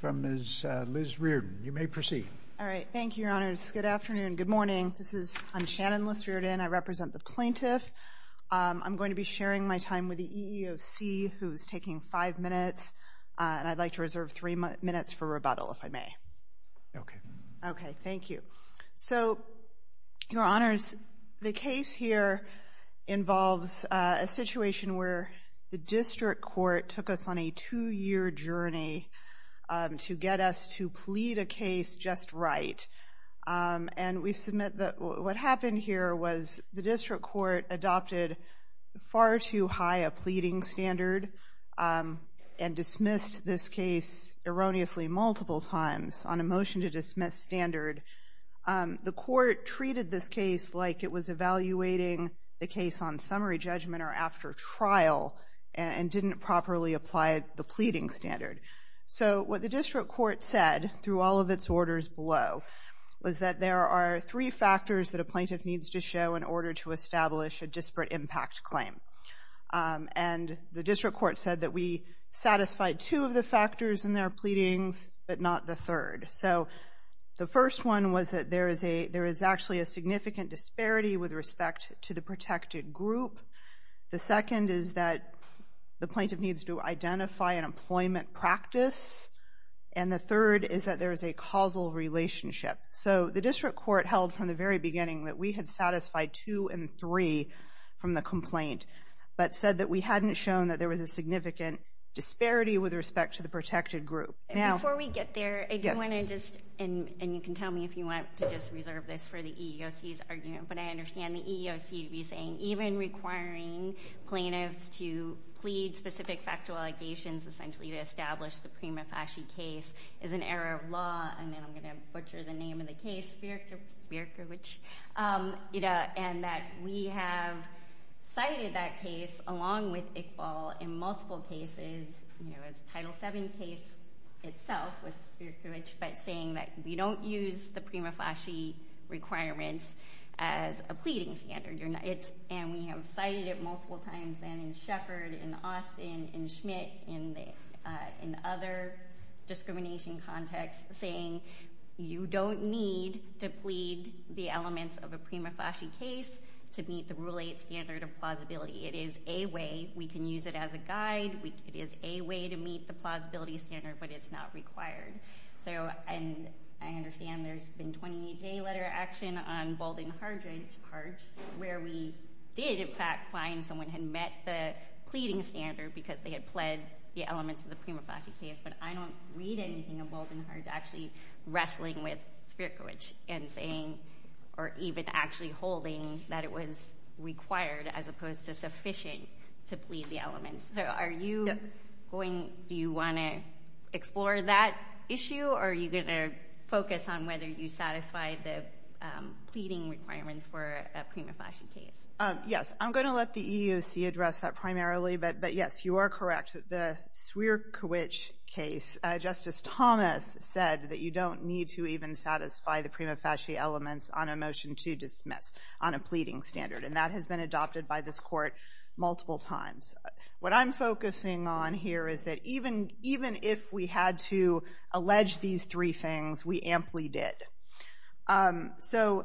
from Ms. Liz Reardon. You may proceed. All right. Thank you, Your Honors. Good afternoon. Good morning. I'm Shannon Liz Reardon. I represent the plaintiff. I'm going to be sharing my time with the EEOC, who's taking five minutes, and I'd like to reserve three minutes for rebuttal, if I may. Okay. Okay. Thank you. So, Your Honors, the case here involves a situation where the district court took us on a two-year journey to get us to plead a case just right, and we submit that what happened here was the district court adopted far too high a pleading standard and dismissed this case erroneously multiple times on a motion to dismiss standard. The court treated this case like it was evaluating the case on summary judgment or after trial and didn't properly apply the pleading standard. So what the district court said, through all of its orders below, was that there are three factors that a plaintiff needs to show in order to establish a disparate impact claim. And the district court said that we satisfied two of the factors in their pleadings, but not the third. So the first one was that there is actually a significant disparity with respect to the protected group. The second is that the plaintiff needs to identify an employment practice. And the third is that there is a causal relationship. So the district court held from the very beginning that we had satisfied two and three from the complaint, but said that we hadn't shown that there was a significant disparity with respect to the protected group. Now— Before we get there, I do want to just—and you can tell me if you want to just reserve this for the EEOC's argument, but I understand the EEOC to be saying, even requiring plaintiffs to plead specific factual allegations, essentially to establish the Prima Fasci case, is an error of law. And then I'm going to butcher the name of the case, Spierkiewicz. And that we have cited that case, along with Iqbal, in multiple cases, you know, as Title VII case itself with Spierkiewicz, but saying that we don't use the Prima Fasci requirements as a pleading standard. And we have cited it multiple times then in Sheppard, in Austin, in Schmidt, in other discrimination contexts, saying you don't need to plead the elements of a Prima Fasci case to meet the Rule 8 standard of plausibility. It is a way. We can use it as a guide. It is a way to meet the plausibility standard, but it's not required. So—and I understand there's been 20-day letter action on Balding Hart, where we did, in fact, find someone had met the pleading standard because they had pled the elements of the Prima Fasci case. But I don't read anything of Balding Hart actually wrestling with Spierkiewicz and saying, or even actually holding, that it was required, as opposed to sufficient, to plead the elements. So are you going—do you want to explore that issue, or are you going to focus on whether you satisfy the pleading requirements for a Prima Fasci case? Yes. I'm going to let the EEOC address that primarily, but yes, you are correct. The Spierkiewicz case, Justice Thomas said that you don't need to even satisfy the Prima Fasci elements on a Motion to Dismiss on a pleading standard, and that has been adopted by this Court multiple times. What I'm focusing on here is that even if we had to allege these three things, we amply did. So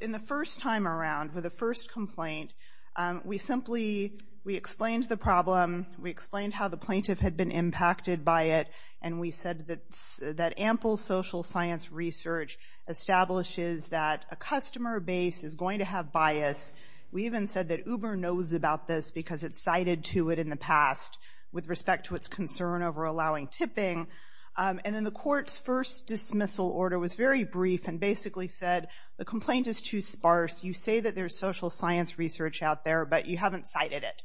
in the first time around, with the first complaint, we simply—we explained the problem, we explained how the plaintiff had been impacted by it, and we said that ample social science research establishes that a customer base is going to have bias. We even said that Uber knows about this because it's cited to it in the past with respect to its concern over allowing tipping, and then the Court's first dismissal order was very brief and basically said, the complaint is too sparse. You say that there's social science research out there, but you haven't cited it.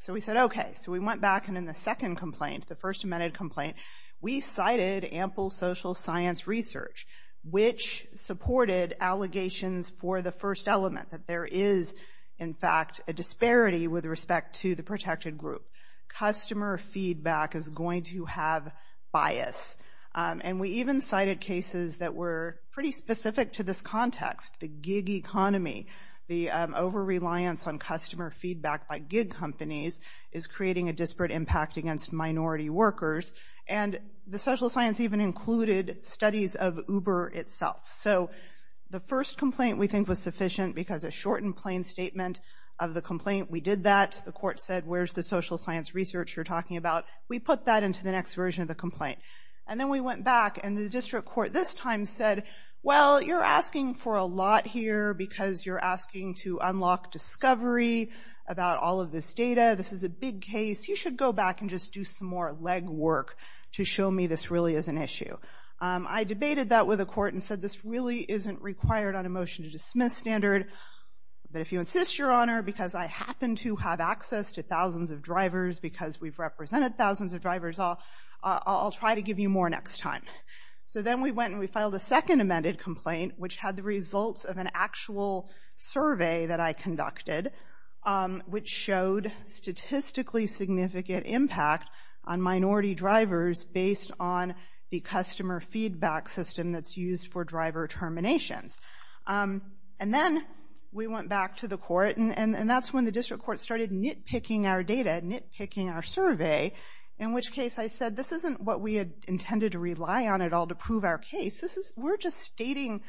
So we said, okay. So we went back, and in the second complaint, the first amended complaint, we cited ample social science research, which supported allegations for the first element, that there is, in fact, a disparity with respect to the protected group. Customer feedback is going to have bias. And we even cited cases that were pretty specific to this context, the gig economy, the over-reliance on customer feedback by gig companies is creating a disparate impact against minority workers, and the social science even included studies of Uber itself. So the first complaint we think was sufficient because a short and plain statement of the complaint, we did that. The Court said, where's the social science research you're talking about? We put that into the next version of the complaint. And then we went back, and the District Court this time said, well, you're asking for a lot here because you're asking to unlock discovery about all of this data. This is a big case. You should go back and just do some more legwork to show me this really is an issue. I debated that with the Court and said, this really isn't required on a motion to dismiss standard, but if you insist, Your Honor, because I happen to have access to thousands of drivers because we've represented thousands of drivers, I'll try to give you more next time. So then we went and we filed a second amended complaint, which had the results of an actual survey that I conducted, which showed statistically significant impact on minority drivers based on the customer feedback system that's used for driver terminations. And then we went back to the Court, and that's when the District Court started nitpicking our data, nitpicking our survey, in which case I said, this isn't what we had intended to rely on at all to prove our case. We're just stating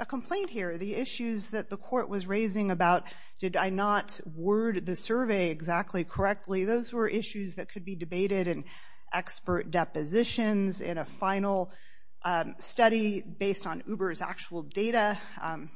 a complaint here. The issues that the Court was raising about, did I not word the survey exactly correctly, those were issues that could be debated in expert depositions, in a final study based on Uber's actual data.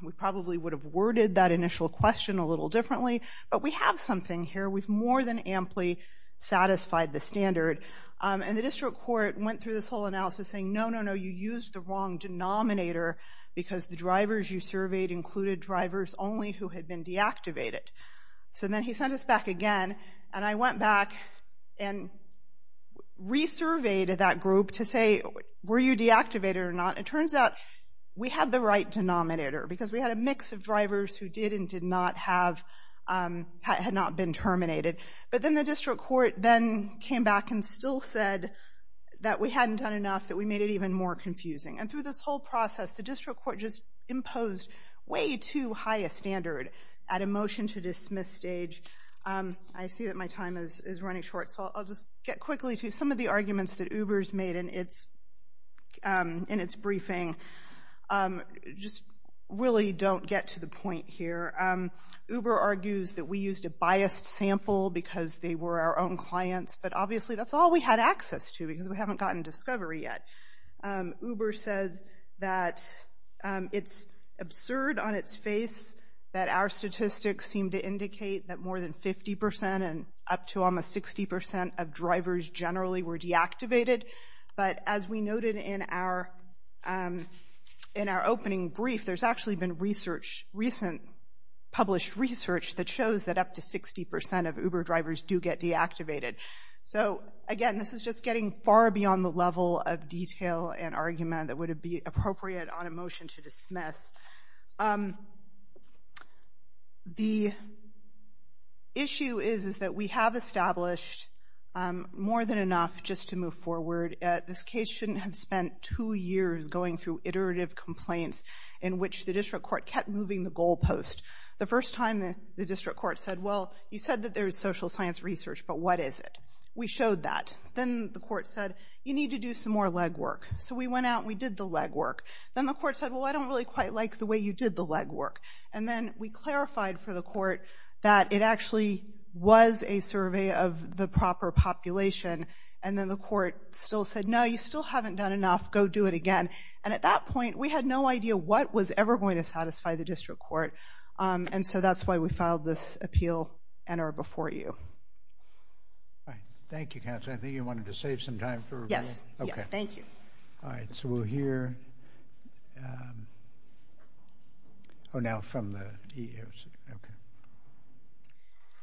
We probably would have worded that initial question a little differently, but we have something here. We've more than amply satisfied the standard. And the District Court went through this whole analysis saying, no, no, no, you used the wrong denominator, because the drivers you surveyed included drivers only who had been deactivated. So then he sent us back again, and I went back and resurveyed that group to say, were you deactivated or not? It turns out we had the right denominator, because we had a mix of drivers who did and did not have, had not been terminated. But then the District Court then came back and still said that we hadn't done enough, that we made it even more confusing. And through this whole process, the District Court just imposed way too high a standard at a motion-to-dismiss stage. I see that my time is running short, so I'll just get quickly to some of the arguments that Uber's made in its briefing. Just really don't get to the point here. Uber argues that we used a biased sample because they were our own clients, but obviously that's all we had access to, because we haven't gotten discovery yet. Uber says that it's absurd on its face that our statistics seem to indicate that more than 50% and up to almost 60% of drivers generally were deactivated. But as we noted in our opening brief, there's actually been recent published research that shows that up to 60% of Uber drivers do get deactivated. So again, this is just getting far beyond the level of detail and argument that would have been appropriate on a motion-to-dismiss. The issue is that we have established more than enough just to move forward. This case shouldn't have spent two years going through iterative complaints in which the District Court kept moving the goalpost. The first time the District Court said, well, you said that there's social science research, but what is it? We showed that. Then the court said, you need to do some more legwork. So we went out and we did the legwork. Then the court said, well, I don't really quite like the way you did the legwork. And then we clarified for the court that it actually was a survey of the proper population. And then the court still said, no, you still haven't done enough. Go do it again. And at that point, we had no idea what was ever going to satisfy the District Court. And so that's why we filed this appeal and are before you. Thank you, Counselor. I think you wanted to save some time for review. Yes. Yes. Thank you. All right. So we're here. Oh, now from the EEOC. Okay.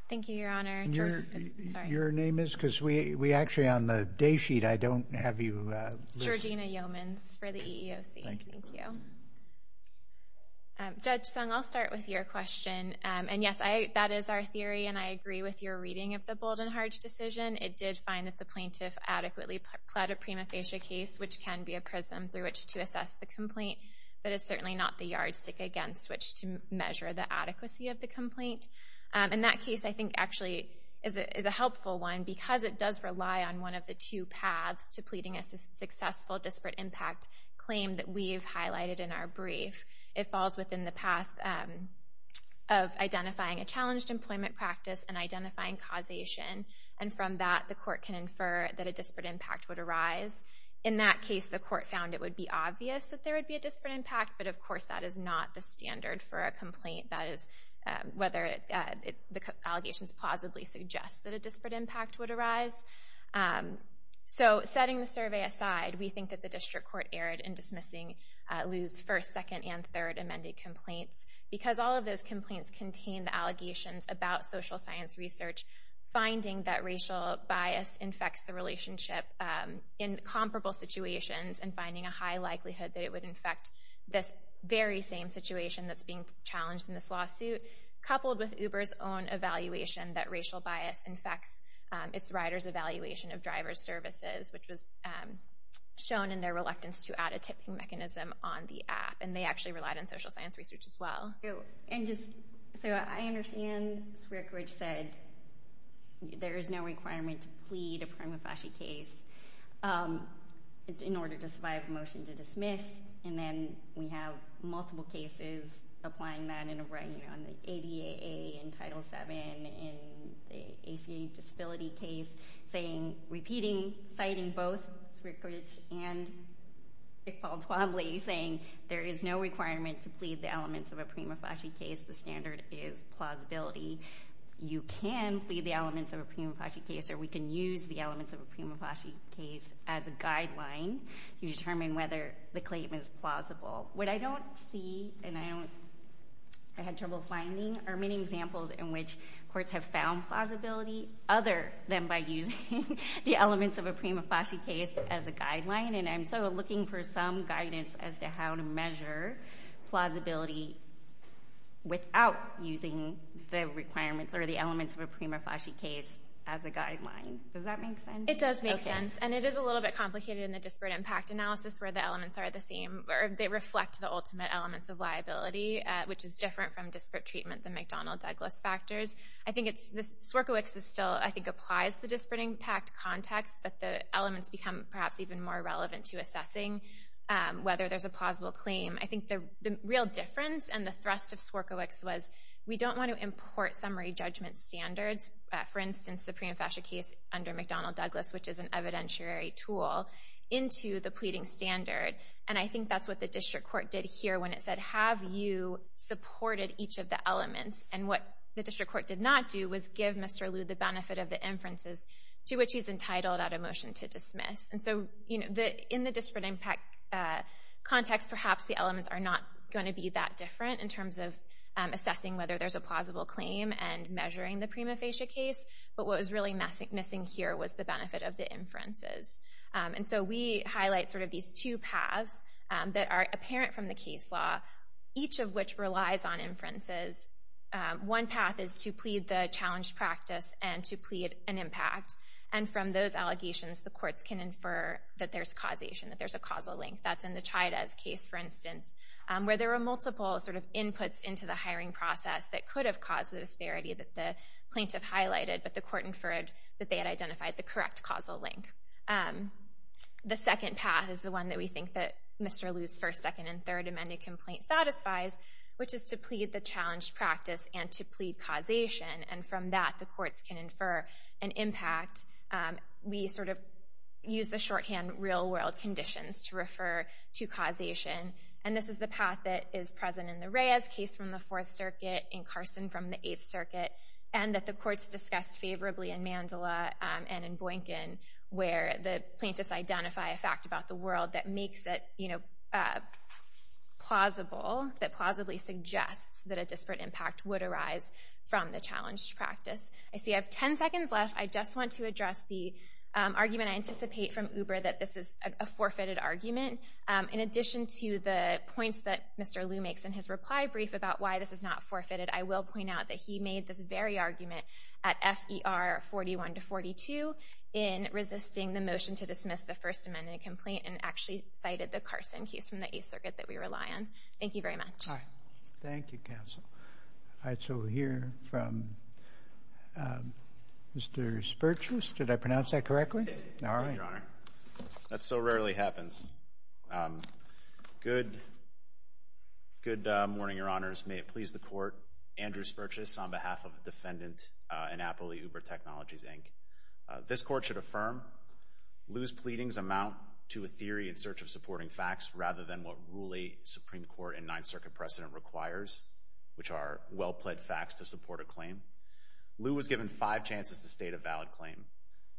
Thank you, Your Honor. I'm sorry. Your name is? Because we actually on the day sheet, I don't have you listed. Georgina Yeomans for the EEOC. Thank you. Thank you. Judge Sung, I'll start with your question. And yes, that is our theory. And I agree with your reading of the Bold and Harge decision. It did find that the plaintiff adequately pled a prima facie case, which can be a prism through which to assess the complaint, but it's certainly not the yardstick against which to measure the adequacy of the complaint. And that case, I think, actually is a helpful one because it does rely on one of the two that we've highlighted in our brief. It falls within the path of identifying a challenged employment practice and identifying causation. And from that, the court can infer that a disparate impact would arise. In that case, the court found it would be obvious that there would be a disparate impact. But of course, that is not the standard for a complaint. That is whether the allegations plausibly suggest that a disparate impact would arise. So, setting the survey aside, we think that the district court erred in dismissing Lew's first, second, and third amended complaints because all of those complaints contained the allegations about social science research, finding that racial bias infects the relationship in comparable situations and finding a high likelihood that it would infect this very same situation that's being challenged in this lawsuit, coupled with Uber's own evaluation that racial bias infects its rider's evaluation of driver's services, which was shown in their reluctance to add a tipping mechanism on the app. And they actually relied on social science research as well. And just, so I understand Sreerak Raj said there is no requirement to plead a prima facie case in order to survive a motion to dismiss, and then we have multiple cases applying that in the ADA, in Title VII, in the ACA disability case, saying, repeating, citing both Sreerak Raj and Dick Paul Twombly, saying there is no requirement to plead the elements of a prima facie case, the standard is plausibility. You can plead the elements of a prima facie case, or we can use the elements of a prima facie case as a guideline to determine whether the claim is plausible. What I don't see, and I had trouble finding, are many examples in which courts have found plausibility other than by using the elements of a prima facie case as a guideline. And I'm still looking for some guidance as to how to measure plausibility without using the requirements or the elements of a prima facie case as a guideline. Does that make sense? It does make sense. And it is a little bit complicated in the disparate impact analysis where the elements are the same, or they reflect the ultimate elements of liability, which is different from disparate treatment, the McDonnell-Douglas factors. I think it's—SWRCOWICS still, I think, applies the disparate impact context, but the elements become perhaps even more relevant to assessing whether there's a plausible claim. I think the real difference and the thrust of SWRCOWICS was we don't want to import summary judgment standards, for instance, the prima facie case under McDonnell-Douglas, which is an evidentiary tool, into the pleading standard. And I think that's what the district court did here when it said, have you supported each of the elements? And what the district court did not do was give Mr. Liu the benefit of the inferences to which he's entitled at a motion to dismiss. And so, you know, in the disparate impact context, perhaps the elements are not going to be that different in terms of assessing whether there's a plausible claim and measuring the prima facie case, but what was really missing here was the benefit of the inferences. And so we highlight sort of these two paths that are apparent from the case law, each of which relies on inferences. One path is to plead the challenged practice and to plead an impact. And from those allegations, the courts can infer that there's causation, that there's a causal link. That's in the Chayadez case, for instance, where there were multiple sort of inputs into the hiring process that could have caused the disparity that the plaintiff highlighted, but the court inferred that they had identified the correct causal link. The second path is the one that we think that Mr. Liu's first, second, and third amended complaint satisfies, which is to plead the challenged practice and to plead causation. And from that, the courts can infer an impact. We sort of use the shorthand real-world conditions to refer to causation. And this is the path that is present in the Reyes case from the Fourth Circuit, in Carson from the Eighth Circuit, and that the courts discussed favorably in Mandela and in Boynkin, where the plaintiffs identify a fact about the world that makes it plausible, that plausibly suggests that a disparate impact would arise from the challenged practice. I see I have 10 seconds left. I just want to address the argument I anticipate from Uber that this is a forfeited argument. In addition to the points that Mr. Liu makes in his reply brief about why this is not forfeited, I will point out that he made this very argument at FER 41 to 42 in resisting the motion to dismiss the first amended complaint and actually cited the Carson case from the Eighth Circuit that we rely on. Thank you very much. All right. Thank you, counsel. All right. So we'll hear from Mr. Spertus. Did I pronounce that correctly? You did. All right. Thank you, Your Honor. All right. That so rarely happens. Good morning, Your Honors. May it please the Court. Andrew Spertus on behalf of the Defendant in Appley, Uber Technologies, Inc. This Court should affirm Liu's pleadings amount to a theory in search of supporting facts rather than what rule 8 Supreme Court and Ninth Circuit precedent requires, which are well-plaid facts to support a claim. Liu was given five chances to state a valid claim.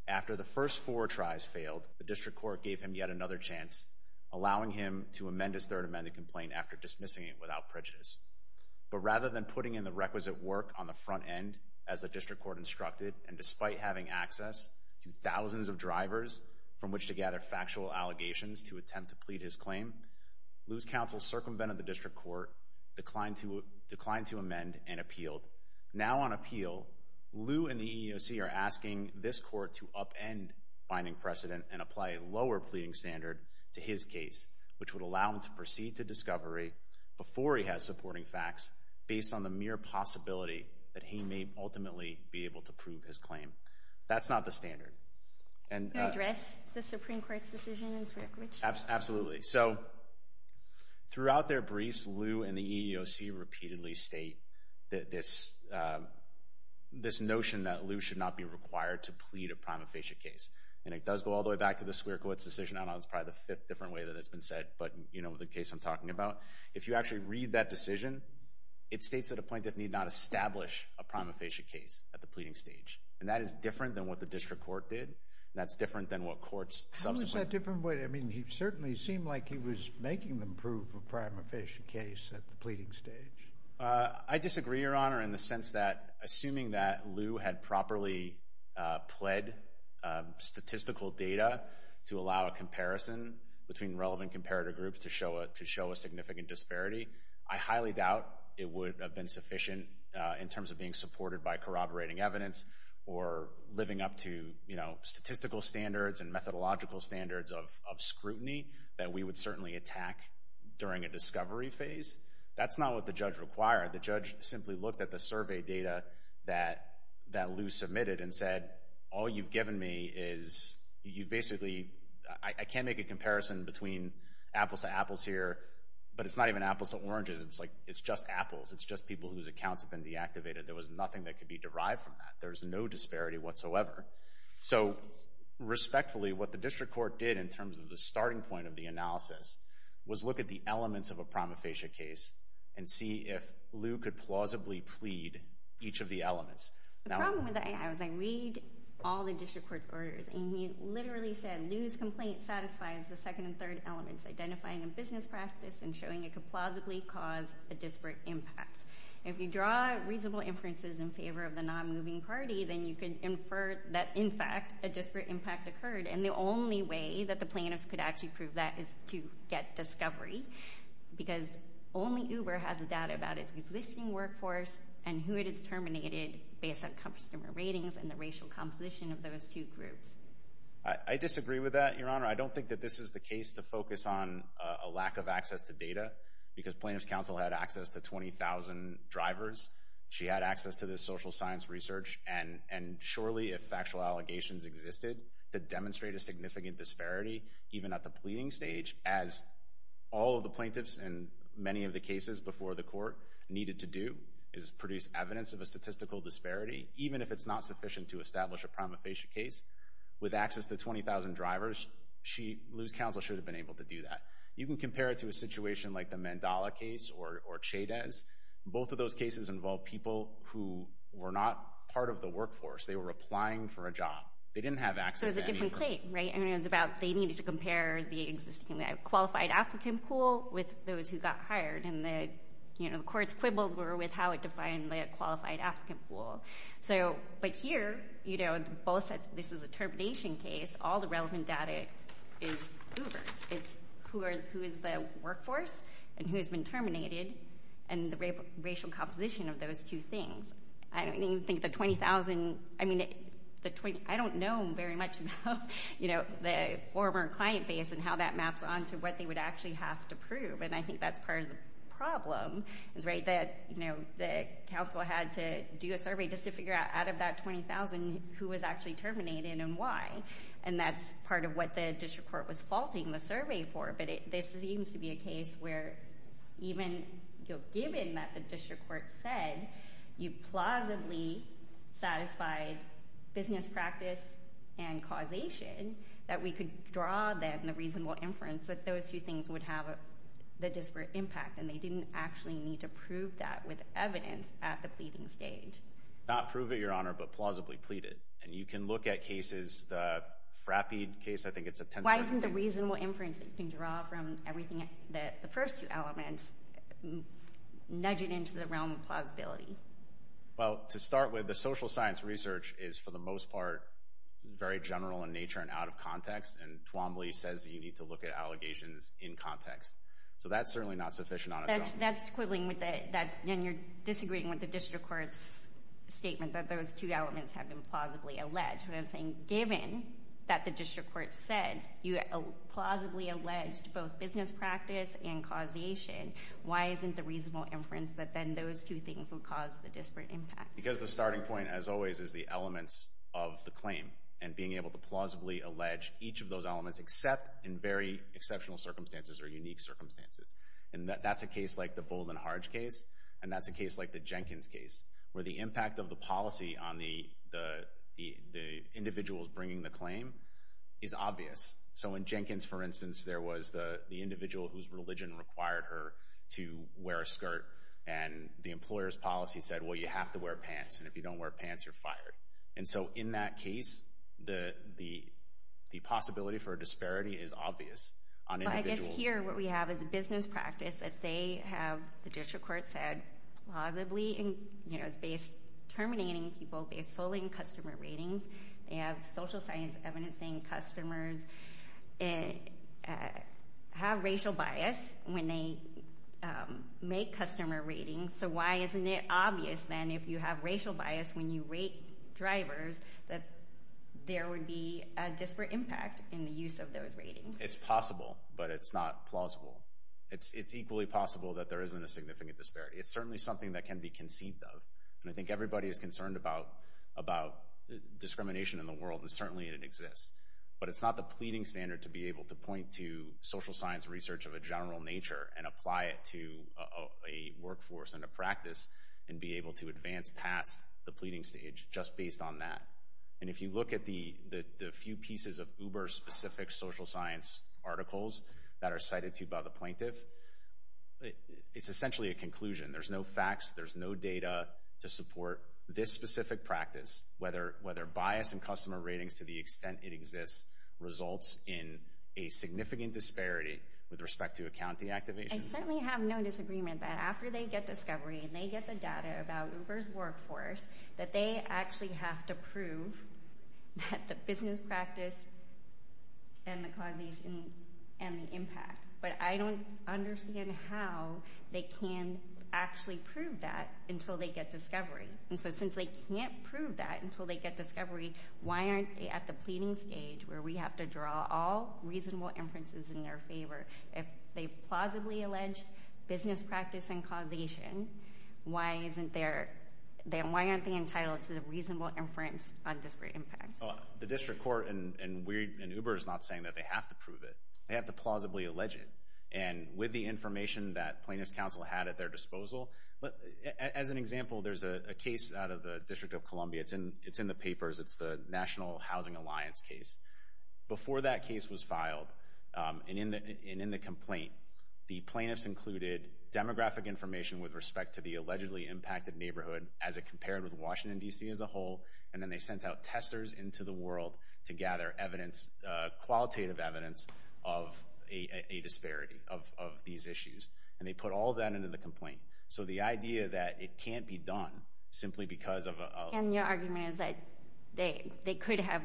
After the first four tries failed, the District Court gave him yet another chance, allowing him to amend his third amended complaint after dismissing it without prejudice. But rather than putting in the requisite work on the front end, as the District Court instructed, and despite having access to thousands of drivers from which to gather factual allegations to attempt to plead his claim, Liu's counsel circumvented the District Court, declined to amend, and appealed. Now on appeal, Liu and the EEOC are asking this Court to upend binding precedent and apply a lower pleading standard to his case, which would allow him to proceed to discovery before he has supporting facts based on the mere possibility that he may ultimately be able to prove his claim. That's not the standard. Can you address the Supreme Court's decision in Swierkiewicz? Absolutely. Absolutely. So, throughout their briefs, Liu and the EEOC repeatedly state that this notion that Liu should not be required to plead a prima facie case, and it does go all the way back to the Swierkiewicz decision. I don't know. It's probably the fifth different way that it's been said, but, you know, the case I'm talking about. If you actually read that decision, it states that a plaintiff need not establish a prima facie case at the pleading stage, and that is different than what the District Court did. That's different than what courts subsequently— How is that different? I mean, he certainly seemed like he was making them prove a prima facie case at the pleading stage. I disagree, Your Honor, in the sense that, assuming that Liu had properly pled statistical data to allow a comparison between relevant comparator groups to show a significant disparity, I highly doubt it would have been sufficient in terms of being supported by corroborating evidence or living up to, you know, statistical standards and methodological standards of scrutiny that we would certainly attack during a discovery phase. That's not what the judge required. The judge simply looked at the survey data that Liu submitted and said, all you've given me is—you've basically—I can't make a comparison between apples to apples here, but it's not even apples to oranges. It's like—it's just apples. It's just people whose accounts have been deactivated. There was nothing that could be derived from that. There's no disparity whatsoever. So respectfully, what the district court did in terms of the starting point of the analysis was look at the elements of a prima facie case and see if Liu could plausibly plead each of the elements. Now— The problem with that, I was like, read all the district court's orders, and he literally said Liu's complaint satisfies the second and third elements, identifying a business practice and showing it could plausibly cause a disparate impact. If you draw reasonable inferences in favor of the non-moving party, then you can infer that, in fact, a disparate impact occurred. And the only way that the plaintiffs could actually prove that is to get discovery, because only Uber has the data about its existing workforce and who it has terminated based on customer ratings and the racial composition of those two groups. I disagree with that, Your Honor. I don't think that this is the case to focus on a lack of access to data, because Plaintiffs Counsel had access to 20,000 drivers. She had access to this social science research, and surely if factual allegations existed to demonstrate a significant disparity, even at the pleading stage, as all of the plaintiffs in many of the cases before the court needed to do, is produce evidence of a statistical disparity, even if it's not sufficient to establish a prima facie case, with access to 20,000 drivers, Liu's counsel should have been able to do that. You can compare it to a situation like the Mandala case or Chaydez. Both of those cases involved people who were not part of the workforce, they were applying for a job. They didn't have access to any Uber. So it's a different claim, right? I mean, it was about they needed to compare the existing qualified applicant pool with those who got hired, and the court's quibbles were with how it defined the qualified applicant pool. So, but here, you know, this is a termination case, all the relevant data is Uber's. It's who are, who is the workforce, and who has been terminated, and the racial composition of those two things. I don't even think the 20,000, I mean, the 20, I don't know very much about, you know, the former client base and how that maps onto what they would actually have to prove, and I think that's part of the problem, is right, that, you know, the counsel had to do a survey just to figure out, out of that 20,000, who was actually terminated and why, and that's part of what the district court was faulting the survey for, but this seems to be a case where even, you know, given that the district court said you plausibly satisfied business practice and causation, that we could draw then the reasonable inference that those two things would have the disparate impact, and they didn't actually need to prove that with evidence at the pleading stage. Not prove it, Your Honor, but plausibly plead it. And you can look at cases, the Frappe case, I think it's a 10-second case. Why isn't the reasonable inference that you can draw from everything, the first two elements, nudge it into the realm of plausibility? Well, to start with, the social science research is, for the most part, very general in nature and out of context, and Twombly says that you need to look at allegations in context, so that's certainly not sufficient on its own. That's quibbling with that, and you're disagreeing with the district court's statement that those two elements have been plausibly alleged. What I'm saying, given that the district court said you plausibly alleged both business practice and causation, why isn't the reasonable inference that then those two things would cause the disparate impact? Because the starting point, as always, is the elements of the claim, and being able to plausibly allege each of those elements, except in very exceptional circumstances or unique circumstances. And that's a case like the Bold and Harge case, and that's a case like the Jenkins case, where the impact of the policy on the individuals bringing the claim is obvious. So in Jenkins, for instance, there was the individual whose religion required her to wear a skirt, and the employer's policy said, well, you have to wear pants, and if you don't wear pants, you're fired. And so, in that case, the possibility for a disparity is obvious on individuals. But here, what we have is a business practice that they have, the district court said, plausibly and, you know, it's based, terminating people based solely on customer ratings. They have social science evidencing customers have racial bias when they make customer ratings. So why isn't it obvious, then, if you have racial bias when you rate drivers, that there would be a disparate impact in the use of those ratings? It's possible, but it's not plausible. It's equally possible that there isn't a significant disparity. It's certainly something that can be conceived of. And I think everybody is concerned about discrimination in the world, and certainly it exists. But it's not the pleading standard to be able to point to social science research of a general nature and apply it to a workforce and a practice and be able to advance past the pleading stage just based on that. And if you look at the few pieces of Uber-specific social science articles that are cited to by the plaintiff, it's essentially a conclusion. There's no facts. There's no data to support this specific practice, whether bias in customer ratings to the extent it exists results in a significant disparity with respect to account deactivation. I certainly have no disagreement that after they get discovery and they get the data about it, they can prove that the business practice and the causation and the impact. But I don't understand how they can actually prove that until they get discovery. And so since they can't prove that until they get discovery, why aren't they at the pleading stage where we have to draw all reasonable inferences in their favor? If they plausibly allege business practice and causation, why aren't they entitled to reasonable inference on disparate impact? The District Court and Uber is not saying that they have to prove it. They have to plausibly allege it. And with the information that Plaintiff's Counsel had at their disposal, as an example, there's a case out of the District of Columbia. It's in the papers. It's the National Housing Alliance case. Before that case was filed and in the complaint, the plaintiffs included demographic information with respect to the allegedly impacted neighborhood as it compared with Washington, D.C. as a whole. And then they sent out testers into the world to gather evidence, qualitative evidence of a disparity of these issues. And they put all that into the complaint. So the idea that it can't be done simply because of a... And your argument is that they could have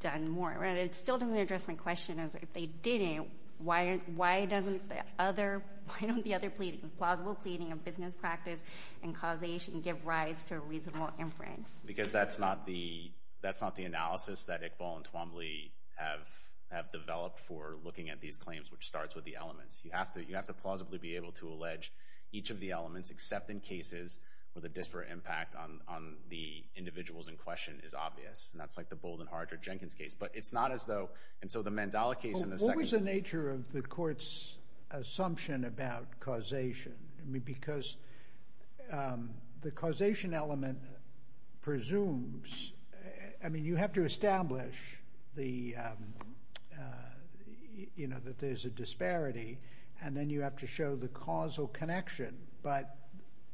done more. It still doesn't address my question as if they didn't, why doesn't the other, why don't the other plausible pleading of business practice and causation give rise to a reasonable inference? Because that's not the, that's not the analysis that Iqbal and Twombly have developed for looking at these claims, which starts with the elements. You have to, you have to plausibly be able to allege each of the elements, except in cases where the disparate impact on the individuals in question is obvious. And that's like the Bold and Hardridge-Jenkins case. But it's not as though, and so the Mandela case and the second... The answer of the court's assumption about causation, I mean, because the causation element presumes, I mean, you have to establish the, you know, that there's a disparity and then you have to show the causal connection. But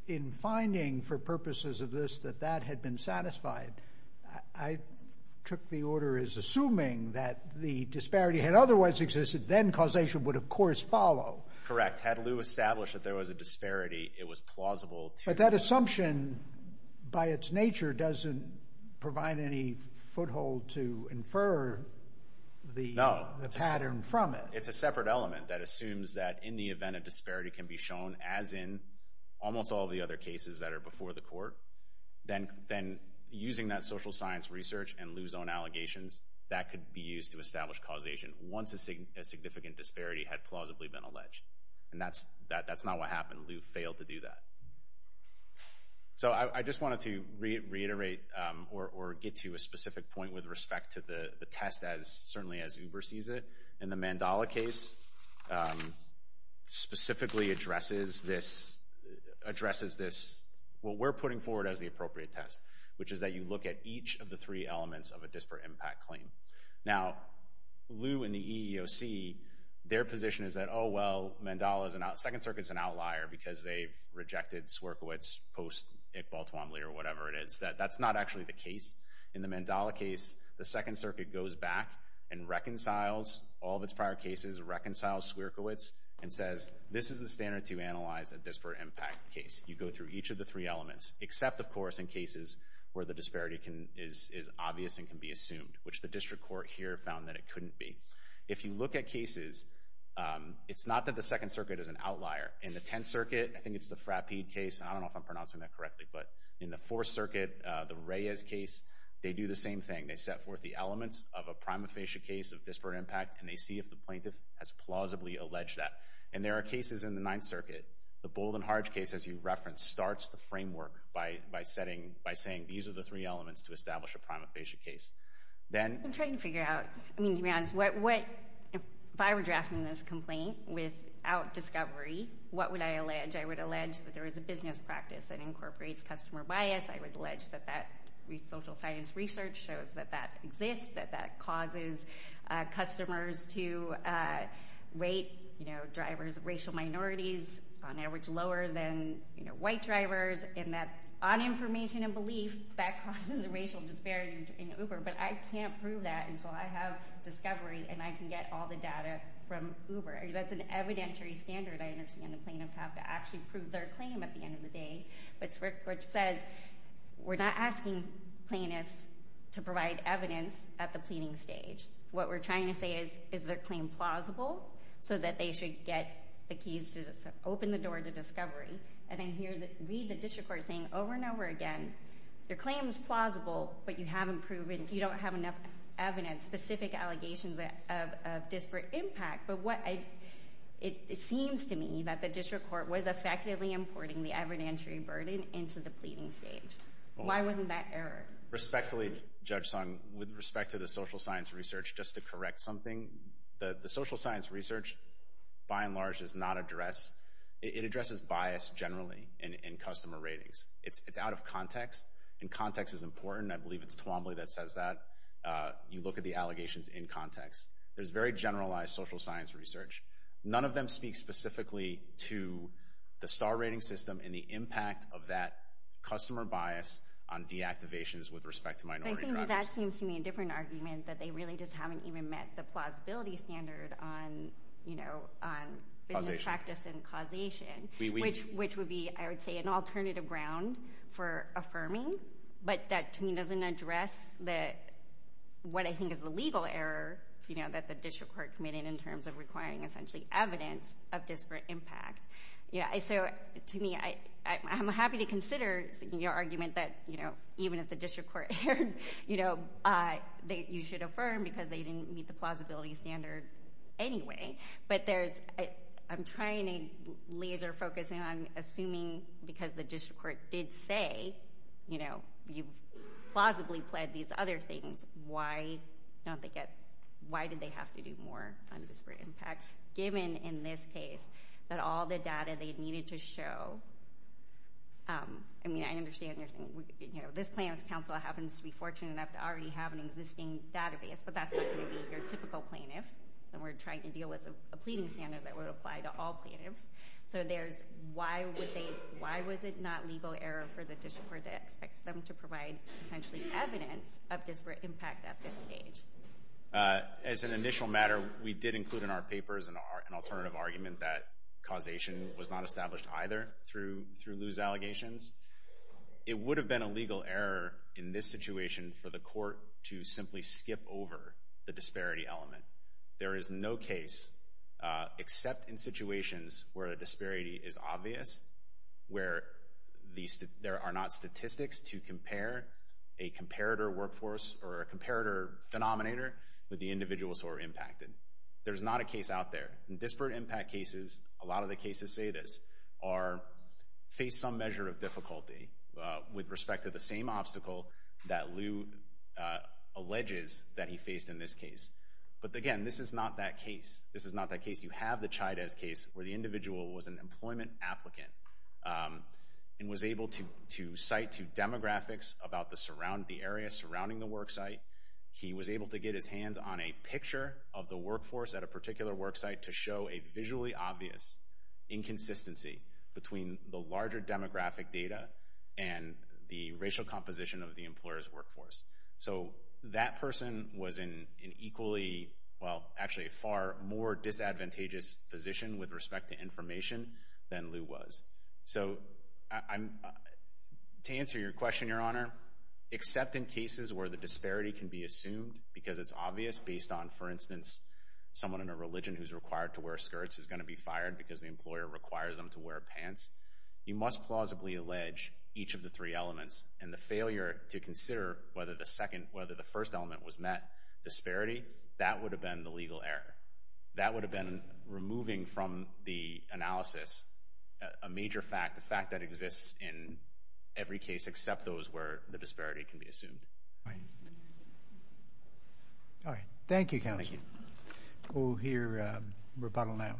in finding for purposes of this, that that had been satisfied, I took the order is assuming that the disparity had otherwise existed, then causation would of course follow. Correct. Had Lew established that there was a disparity, it was plausible to... But that assumption by its nature doesn't provide any foothold to infer the pattern from it. No. It's a separate element that assumes that in the event of disparity can be shown as in almost all the other cases that are before the court, then using that social science research and Lew's own allegations, that could be used to establish causation once a significant disparity had plausibly been alleged. And that's not what happened. Lew failed to do that. So I just wanted to reiterate or get to a specific point with respect to the test as, certainly as Uber sees it. In the Mandela case, specifically addresses this, what we're putting forward as the appropriate test, which is that you look at each of the three elements of a disparate impact claim. Now Lew and the EEOC, their position is that, oh, well, Mandela is an out, Second Circuit's an outlier because they've rejected Swierkiewicz post-Iqbal Twombly or whatever it is. That's not actually the case. In the Mandela case, the Second Circuit goes back and reconciles all of its prior cases, reconciles Swierkiewicz and says, this is the standard to analyze a disparate impact case. You go through each of the three elements, except, of course, in cases where the disparity is obvious and can be assumed, which the district court here found that it couldn't be. If you look at cases, it's not that the Second Circuit is an outlier. In the Tenth Circuit, I think it's the Frappede case. I don't know if I'm pronouncing that correctly, but in the Fourth Circuit, the Reyes case, they do the same thing. They set forth the elements of a prima facie case of disparate impact, and they see if the plaintiff has plausibly alleged that. And there are cases in the Ninth Circuit. The Bold and Harge case, as you referenced, starts the framework by saying, these are the three elements to establish a prima facie case. I'm trying to figure out, to be honest, if I were drafting this complaint without discovery, what would I allege? I would allege that there is a business practice that incorporates customer bias. I would allege that social science research shows that that exists, that that causes customers to rate racial minorities on average lower than white drivers, and that on information and belief, that causes a racial disparity in Uber, but I can't prove that until I have discovery and I can get all the data from Uber. That's an evidentiary standard I understand the plaintiffs have to actually prove their claim at the end of the day, which says we're not asking plaintiffs to provide evidence at the pleading stage. What we're trying to say is, is their claim plausible, so that they should get the keys to open the door to discovery, and then read the district court saying over and over again, their claim is plausible, but you haven't proven, you don't have enough evidence, specific allegations of disparate impact, but it seems to me that the district court was effectively importing the evidentiary burden into the pleading stage. Why wasn't that error? Respectfully, Judge Sung, with respect to the social science research, just to correct something, the social science research by and large does not address, it addresses bias generally in customer ratings. It's out of context, and context is important, I believe it's Twombly that says that. You look at the allegations in context. There's very generalized social science research, none of them speak specifically to the star rating system, and the impact of that customer bias on deactivations with respect to minority drivers. But I think that that seems to me a different argument, that they really just haven't even met the plausibility standard on, you know, on business practice and causation, which would be, I would say, an alternative ground for affirming, but that to me doesn't address what I think is the legal error, you know, that the district court committed in terms of requiring essentially evidence of disparate impact. Yeah, so to me, I'm happy to consider your argument that, you know, even if the district court, you know, that you should affirm because they didn't meet the plausibility standard anyway. But there's, I'm trying to laser focus on assuming because the district court did say, you know, you plausibly pled these other things, why don't they get, why did they have to do more on disparate impact, given in this case, that all the data they needed to show, I mean, I understand you're saying, you know, this plaintiff's counsel happens to be fortunate enough to already have an existing database, but that's not going to be your typical plaintiff, and we're trying to deal with a pleading standard that would apply to all plaintiffs. So there's, why would they, why was it not legal error for the district court to expect them to provide essentially evidence of disparate impact at this stage? As an initial matter, we did include in our papers an alternative argument that causation was not established either through loose allegations. It would have been a legal error in this situation for the court to simply skip over the disparity element. There is no case, except in situations where a disparity is obvious, where there are not with the individuals who are impacted. There's not a case out there. In disparate impact cases, a lot of the cases say this, are, face some measure of difficulty with respect to the same obstacle that Lou alleges that he faced in this case. But again, this is not that case. This is not that case. You have the Chydez case, where the individual was an employment applicant and was able to cite to demographics about the surrounding, the area surrounding the work site. He was able to get his hands on a picture of the workforce at a particular work site to show a visually obvious inconsistency between the larger demographic data and the racial composition of the employer's workforce. So that person was in an equally, well, actually a far more disadvantageous position with respect to information than Lou was. So, to answer your question, Your Honor, except in cases where the disparity can be assumed because it's obvious, based on, for instance, someone in a religion who's required to wear skirts is going to be fired because the employer requires them to wear pants, you must plausibly allege each of the three elements. And the failure to consider whether the second, whether the first element was met, disparity, that would have been the legal error. That would have been removing from the analysis a major fact, the fact that exists in every case except those where the disparity can be assumed. All right. Thank you, counsel. Thank you. We'll hear rebuttal now.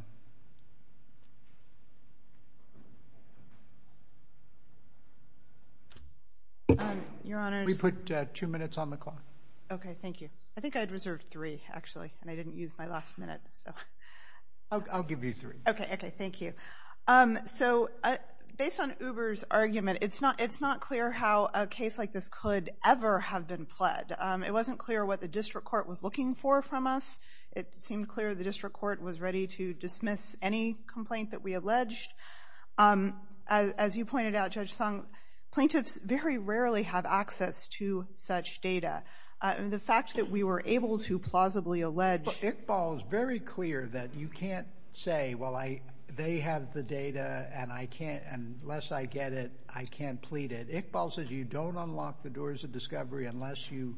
Your Honor. We put two minutes on the clock. Okay, thank you. I think I had reserved three, actually, and I didn't use my last minute, so. I'll give you three. Okay, okay. Thank you. So, based on Uber's argument, it's not clear how a case like this could ever have been pled. It wasn't clear what the district court was looking for from us. It seemed clear the district court was ready to dismiss any complaint that we alleged. As you pointed out, Judge Song, plaintiffs very rarely have access to such data. The fact that we were able to plausibly allege... Iqbal is very clear that you can't say, well, they have the data, and unless I get it, I can't plead it. Iqbal says you don't unlock the doors of discovery unless you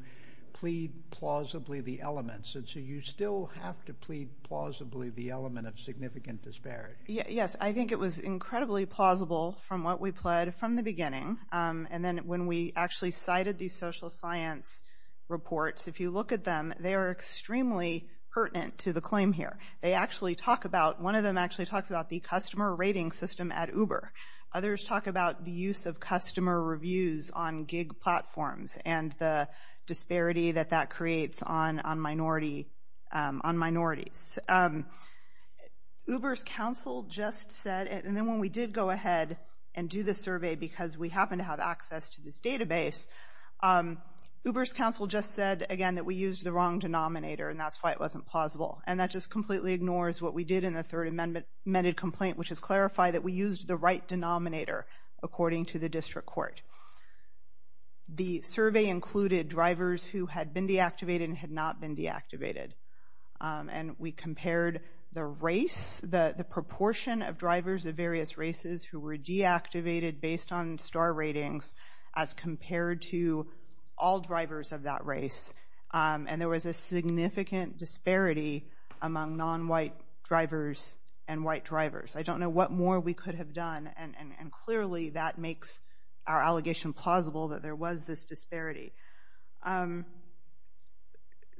plead plausibly the elements, and so you still have to plead plausibly the element of significant disparity. Yes. I think it was incredibly plausible from what we pled from the beginning, and then when we actually cited these social science reports, if you look at them, they are extremely pertinent to the claim here. They actually talk about... One of them actually talks about the customer rating system at Uber. Others talk about the use of customer reviews on gig platforms and the disparity that that creates on minorities. Uber's counsel just said... And then when we did go ahead and do the survey, because we happen to have access to this data, this database, Uber's counsel just said, again, that we used the wrong denominator, and that's why it wasn't plausible. And that just completely ignores what we did in the third amended complaint, which is clarify that we used the right denominator according to the district court. The survey included drivers who had been deactivated and had not been deactivated. And we compared the race, the proportion of drivers of various races who were deactivated based on star ratings as compared to all drivers of that race. And there was a significant disparity among non-white drivers and white drivers. I don't know what more we could have done, and clearly that makes our allegation plausible that there was this disparity.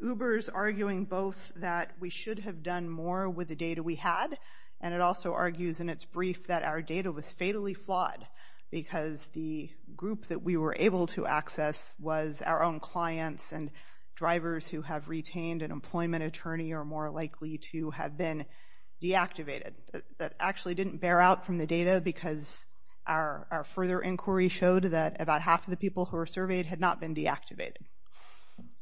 Uber's arguing both that we should have done more with the data we had, and it also argues in its brief that our data was fatally flawed, because the group that we were able to access was our own clients, and drivers who have retained an employment attorney are more likely to have been deactivated. That actually didn't bear out from the data, because our further inquiry showed that about half of the people who were surveyed had not been deactivated.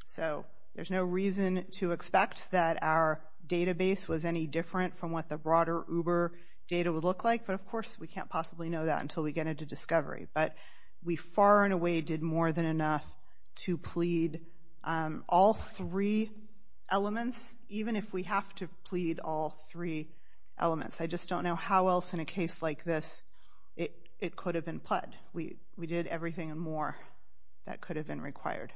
So there's no reason to expect that our database was any different from what the broader Uber data would look like, but of course we can't possibly know that until we get into discovery. But we far and away did more than enough to plead all three elements, even if we have to plead all three elements. I just don't know how else in a case like this it could have been pled. We did everything and more that could have been required.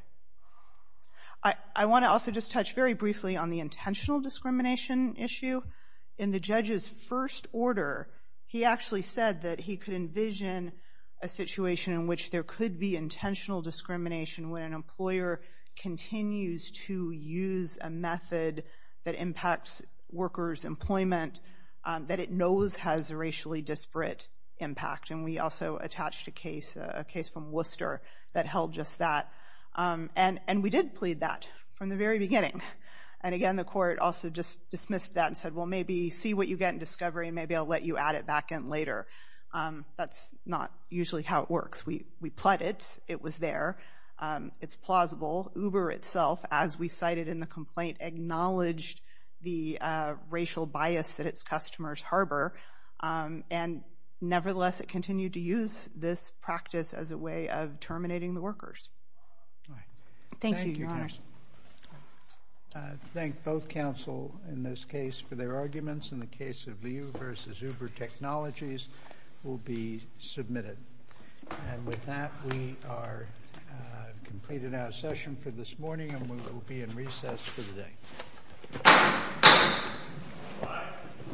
I want to also just touch very briefly on the intentional discrimination issue. In the judge's first order, he actually said that he could envision a situation in which there could be intentional discrimination when an employer continues to use a method that impacts workers' employment that it knows has a racially disparate impact, and we also attached a case from Worcester that held just that. And we did plead that from the very beginning. And again, the court also just dismissed that and said, well, maybe see what you get in discovery and maybe I'll let you add it back in later. That's not usually how it works. We pled it. It was there. It's plausible. Uber itself, as we cited in the complaint, acknowledged the racial bias that its customers harbor and nevertheless it continued to use this practice as a way of terminating the workers. Thank you, Your Honor. Thank you, Your Honors. I thank both counsel in this case for their arguments in the case of Liu versus Uber Technologies will be submitted. And with that, we are completed our session for this morning and we will be in recess for the day.